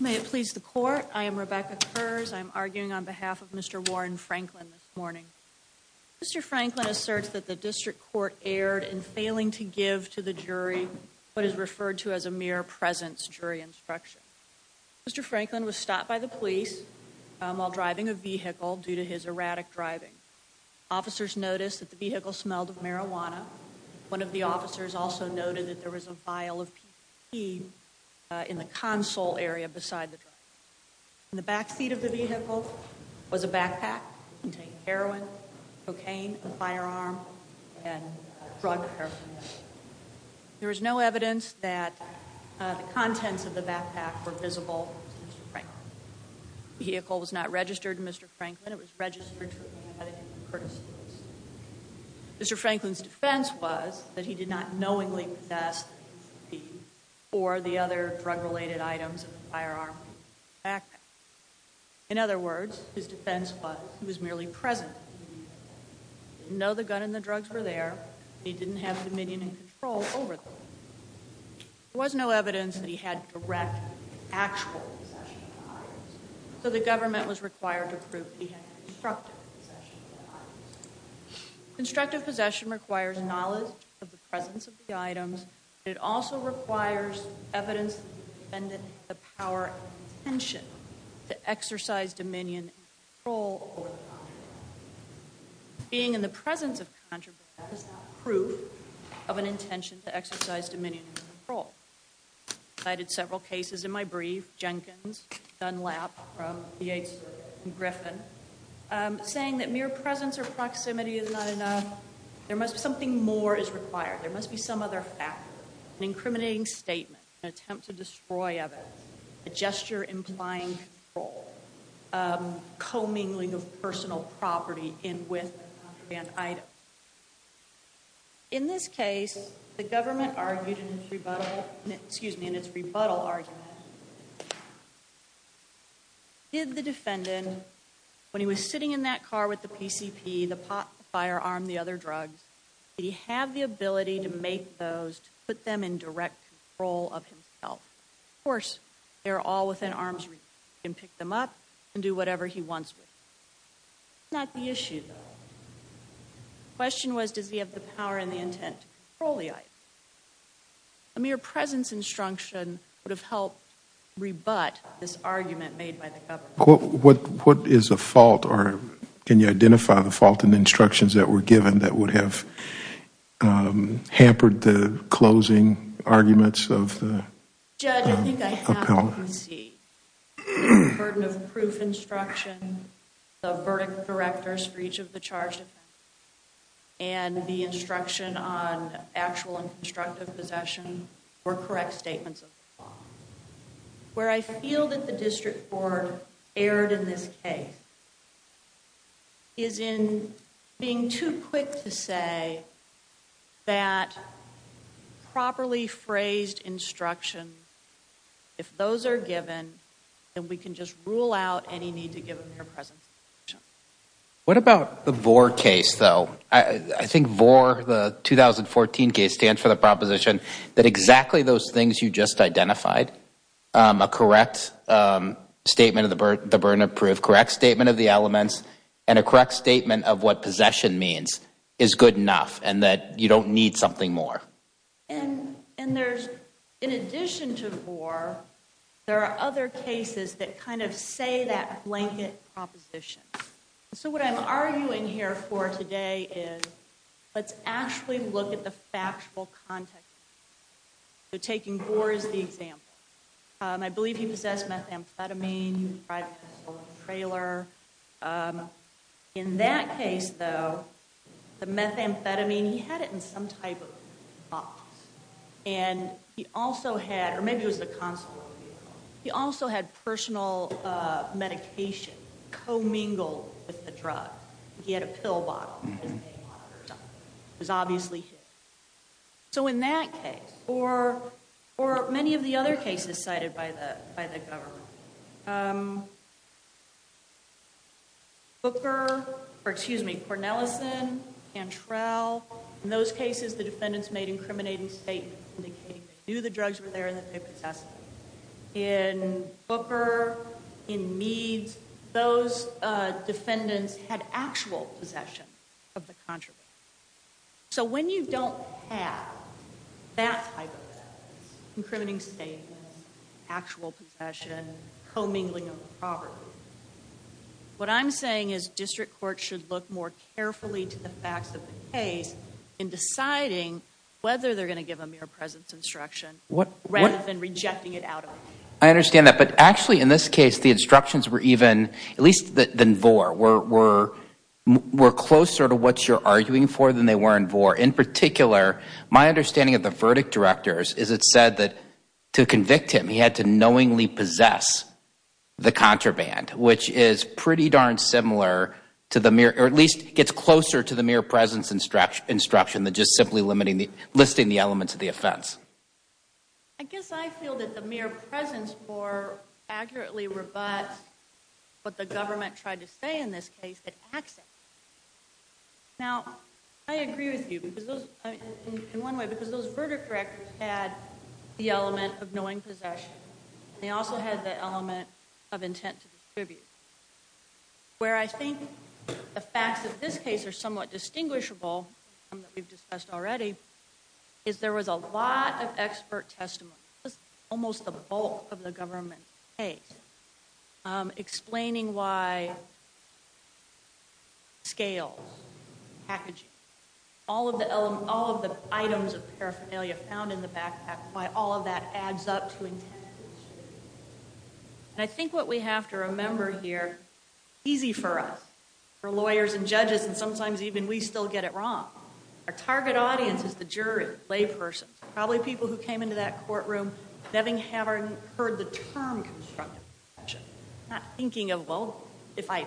May it please the court. I am Rebecca Kurz. I'm arguing on behalf of Mr. Warren Franklin this morning. Mr. Franklin asserts that the district court erred in failing to give to the jury what is referred to as a mere presence jury instruction. Mr. Franklin was stopped by the police while driving a vehicle due to his erratic driving. Officers noticed that the vehicle smelled of marijuana. One of the officers also noted that there was a vial of pee in the console area beside the driver. In the backseat of the vehicle was a backpack containing heroin, cocaine, a firearm, and drug paraphernalia. There was no evidence that the contents of the backpack were visible to Mr. Franklin. The vehicle was not registered to Mr. Franklin. It was registered to a man named Curtis Lewis. Mr. Franklin's defense was that he did not knowingly possess the pee or the other drug-related items in the firearm or backpack. In other words, his defense was he was merely present. He didn't know the gun and the drugs were there. He didn't have dominion and control over them. There was no evidence that he had direct, actual possession of the items. So the government was required to prove that he had constructive possession of the items. Constructive possession requires knowledge of the presence of the items. It also requires evidence that the defendant had the power and intention to exercise dominion and control over the items. Being in the presence of contraband is not proof of an intention to exercise dominion and control. I cited several cases in my brief. Jenkins, Dunlap from the 8th Circuit, and Griffin. Saying that mere presence or proximity is not enough. There must be something more is required. There must be some other factor. An incriminating statement. An attempt to destroy evidence. A gesture implying control. Commingling of personal property in with a contraband item. In this case, the government argued in its rebuttal argument. Did the defendant, when he was sitting in that car with the PCP, the pot, the firearm, the other drugs, did he have the ability to make those, to put them in direct control of himself? Of course. They're all within arm's reach. He can pick them up and do whatever he wants with them. That's not the issue. The question was, does he have the power and the intent to control the items? A mere presence instruction would have helped rebut this argument made by the government. What is the fault, or can you identify the fault in the instructions that were given that would have hampered the closing arguments of the appellant? Judge, I think I have to concede that the burden of proof instruction, the verdict of directors for each of the charged offenders, and the instruction on actual and constructive possession were correct statements of the law. Where I feel that the district board erred in this case is in being too quick to say that properly phrased instruction, if those are given, then we can just rule out any need to give a mere presence instruction. What about the VOR case, though? I think VOR, the 2014 case, stands for the proposition that exactly those things you just identified, a correct statement of the burden of proof, correct statement of the elements, and a correct statement of what possession means is good enough, and that you don't need something more. In addition to VOR, there are other cases that kind of say that blanket proposition. So what I'm arguing here for today is let's actually look at the factual context. So taking VOR as the example, I believe he possessed methamphetamine, he was driving a stolen trailer. In that case, though, the methamphetamine, he had it in some type of box, and he also had, or maybe it was the console, he also had personal medication commingled with the drug. He had a pill bottle in his mailbox or something. It was obviously his. So in that case, or many of the other cases cited by the government, Booker, or excuse me, Cornelison, Cantrell, in those cases the defendants made incriminating statements indicating they knew the drugs were there and that they possessed them. In Booker, in Meads, those defendants had actual possession of the contraband. So when you don't have that type of evidence, incriminating statements, actual possession, commingling of the property, what I'm saying is district courts should look more carefully to the facts of the case in deciding whether they're going to give a mere presence instruction rather than rejecting it out of them. I understand that, but actually in this case the instructions were even, at least than VOR, were closer to what you're arguing for than they were in VOR. In particular, my understanding of the verdict directors is it said that to convict him he had to knowingly possess the contraband, which is pretty darn similar to the mere, or at least gets closer to the mere presence instruction than just simply listing the elements of the offense. I guess I feel that the mere presence more accurately rebuts what the government tried to say in this case, that access. Now, I agree with you in one way, because those verdict directors had the element of knowing possession. They also had the element of intent to distribute. Where I think the facts of this case are somewhat distinguishable, something that we've discussed already, is there was a lot of expert testimony, almost the bulk of the government's case, explaining why scales, packaging, all of the items of paraphernalia found in the backpack, why all of that adds up to intent to distribute. And I think what we have to remember here, easy for us, for lawyers and judges, and sometimes even we still get it wrong, our target audience is the jury, laypersons, probably people who came into that courtroom having heard the term constructive possession, not thinking of, well, if I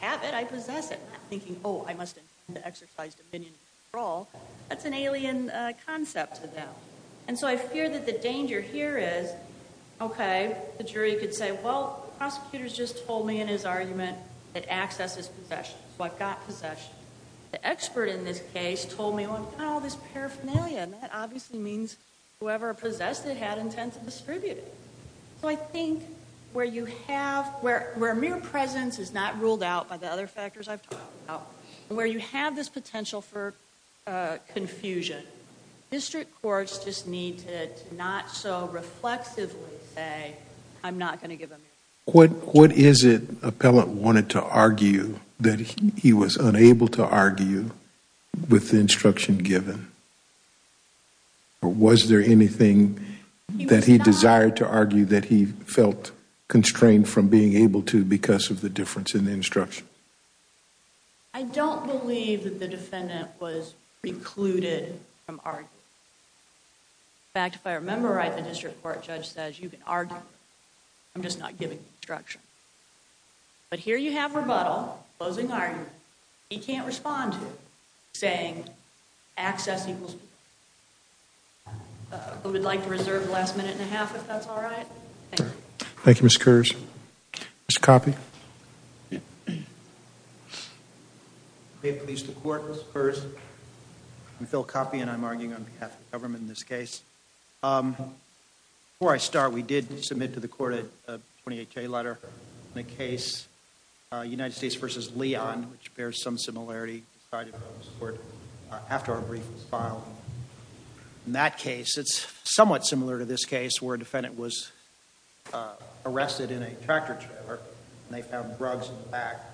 have it, I possess it, not thinking, oh, I must have exercised opinion at all. That's an alien concept to them. And so I fear that the danger here is, okay, the jury could say, well, the prosecutor's just told me in his argument that access is possession, so I've got possession. The expert in this case told me, well, I've got all this paraphernalia, and that obviously means whoever possessed it had intent to distribute it. So I think where you have, where mere presence is not ruled out by the other factors I've talked about, and where you have this potential for confusion, district courts just need to not so reflexively say, I'm not going to give him... What is it Appellant wanted to argue that he was unable to argue with the instruction given? Or was there anything that he desired to argue that he felt constrained from being able to because of the difference in the instruction? I don't believe that the defendant was precluded from arguing. In fact, if I remember right, the district court judge says you can argue, I'm just not giving the instruction. But here you have rebuttal, closing argument, he can't respond to it, saying access equals... Who would like to reserve the last minute and a half, if that's all right? Thank you, Ms. Kurz. Mr. Coffey? May it please the Court, Ms. Kurz. I'm Phil Coffey and I'm arguing on behalf of the government in this case. Before I start, we did submit to the Court a 28-K letter in a case, United States v. Leon, which bears some similarity to the side of the Supreme Court, after our brief was filed. In that case, it's somewhat similar to this case where a defendant was arrested in a tractor trailer and they found drugs in the back.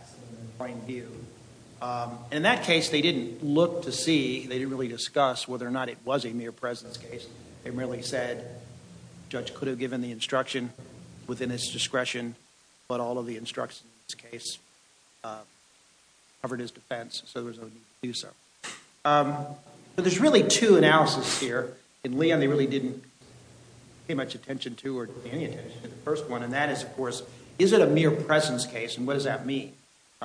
In that case, they didn't look to see, they didn't really discuss whether or not it was a mere presence case. They merely said the judge could have given the instruction within his discretion, but all of the instructions in this case covered his defense, so there was no need to do so. There's really two analyses here. In Leon, they really didn't pay much attention to, or pay any attention to the first one, and that is, of course, is it a mere presence case and what does that mean?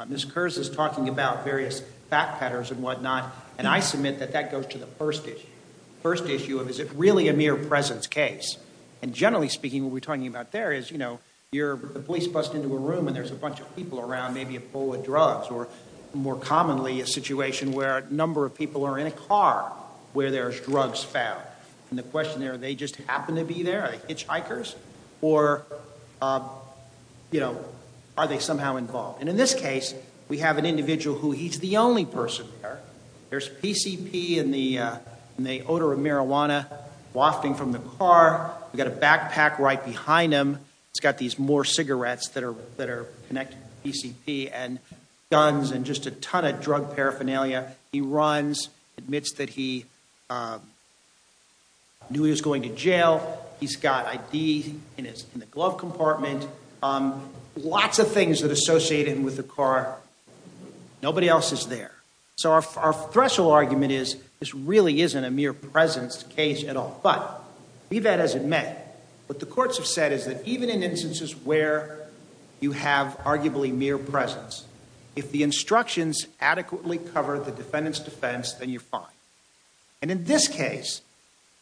Ms. Kurz is talking about various fact patterns and whatnot, and I submit that that goes to the first issue. The first issue of is it really a mere presence case? And generally speaking, what we're talking about there is, you know, the police bust into a room and there's a bunch of people around, maybe a pool of drugs, or more commonly, a situation where a number of people are in a car where there's drugs found. And the question there, they just happen to be there? Are they hitchhikers? Or, you know, are they somehow involved? And in this case, we have an individual who he's the only person there. There's PCP and the odor of marijuana wafting from the car. We've got a backpack right behind him. He's got these more cigarettes that are connected to PCP and guns and just a ton of drug paraphernalia. He runs, admits that he knew he was going to jail. He's got ID in the glove compartment. Lots of things that associate him with the car. Nobody else is there. So our threshold argument is this really isn't a mere presence case at all. But be that as it may, what the courts have said is that even in instances where you have arguably mere presence, if the instructions adequately cover the defendant's defense, then you're fine. And in this case,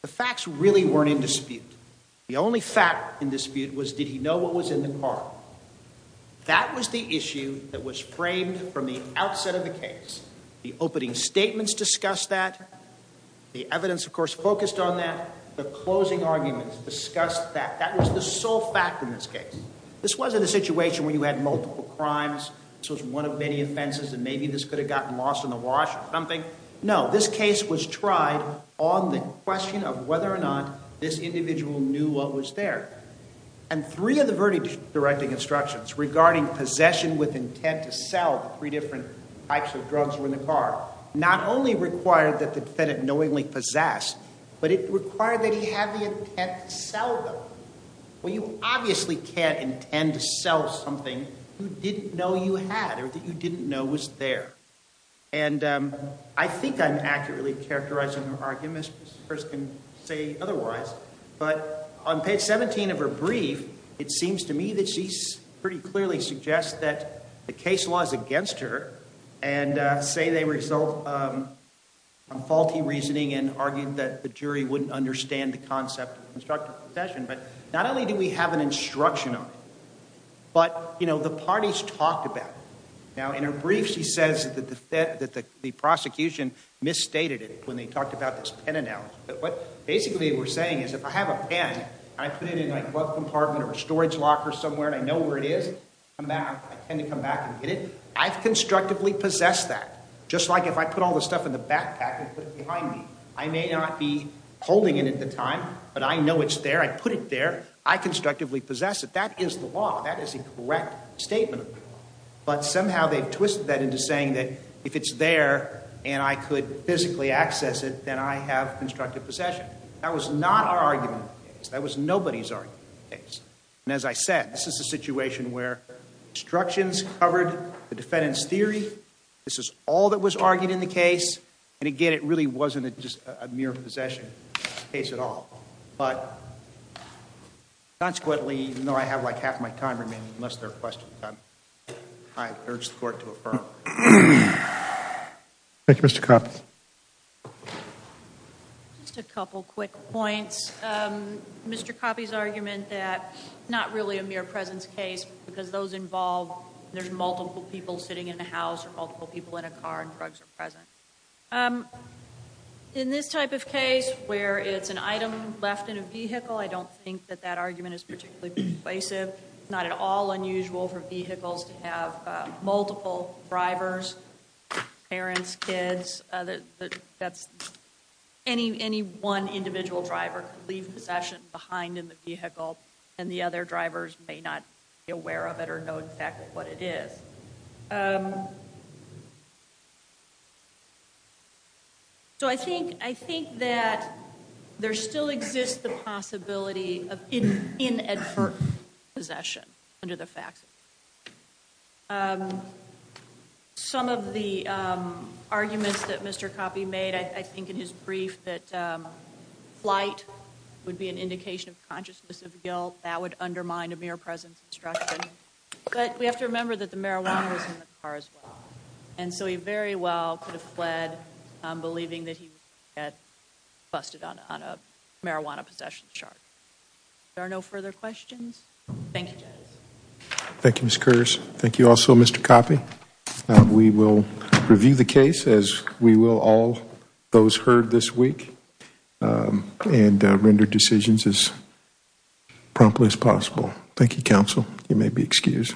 the facts really weren't in dispute. The only fact in dispute was did he know what was in the car? That was the issue that was framed from the outset of the case. The opening statements discussed that. The evidence, of course, focused on that. The closing arguments discussed that. That was the sole fact in this case. This wasn't a situation where you had multiple crimes. This was one of many offenses, and maybe this could have gotten lost in the wash or something. No, this case was tried on the question of whether or not this individual knew what was there. And three of the verdict-directing instructions regarding possession with intent to sell three different types of drugs were in the car. Not only required that the defendant knowingly possess, but it required that he have the intent to sell them. Well, you obviously can't intend to sell something you didn't know you had or that you didn't know was there. And I think I'm accurately characterizing her argument, as far as I can say otherwise. But on page 17 of her brief, it seems to me that she pretty clearly suggests that the case law is against her and say they result from faulty reasoning and argued that the jury wouldn't understand the concept of constructive possession. But not only do we have an instruction on it, but the parties talked about it. Now, in her brief, she says that the prosecution misstated it when they talked about this pen analogy. But what basically we're saying is if I have a pen and I put it in a glove compartment or a storage locker somewhere and I know where it is, I tend to come back and get it. I've constructively possessed that, just like if I put all the stuff in the backpack and put it behind me. I may not be holding it at the time, but I know it's there. I put it there. I constructively possess it. That is the law. That is a correct statement of the law. But somehow they've twisted that into saying that if it's there and I could physically access it, then I have constructive possession. That was not our argument in the case. That was nobody's argument in the case. And as I said, this is a situation where instructions covered the defendant's theory. This is all that was argued in the case. And again, it really wasn't just a mere possession case at all. But consequently, even though I have like half my time remaining, unless there are questions, I urge the court to affirm. Thank you, Mr. Coppe. Just a couple quick points. Mr. Coppe's argument that not really a mere presence case because those involve there's multiple people sitting in a house or multiple people in a car and drugs are present. In this type of case where it's an item left in a vehicle, I don't think that that argument is particularly persuasive. It's not at all unusual for vehicles to have multiple drivers, parents, kids. Any one individual driver could leave possession behind in the vehicle and the other drivers may not be aware of it or know in fact what it is. So I think that there still exists the possibility of inadvertent possession under the facts. Some of the arguments that Mr. Coppe made, I think in his brief, that flight would be an indication of consciousness of guilt. That would undermine a mere presence instruction. But we have to remember that the marijuana was in the car as well. And so he very well could have fled believing that he had busted on a marijuana possession charge. There are no further questions. Thank you, judges. Thank you, Ms. Curtis. Thank you also, Mr. Coppe. We will review the case as we will all those heard this week and render decisions as promptly as possible. Thank you, counsel. You may be excused.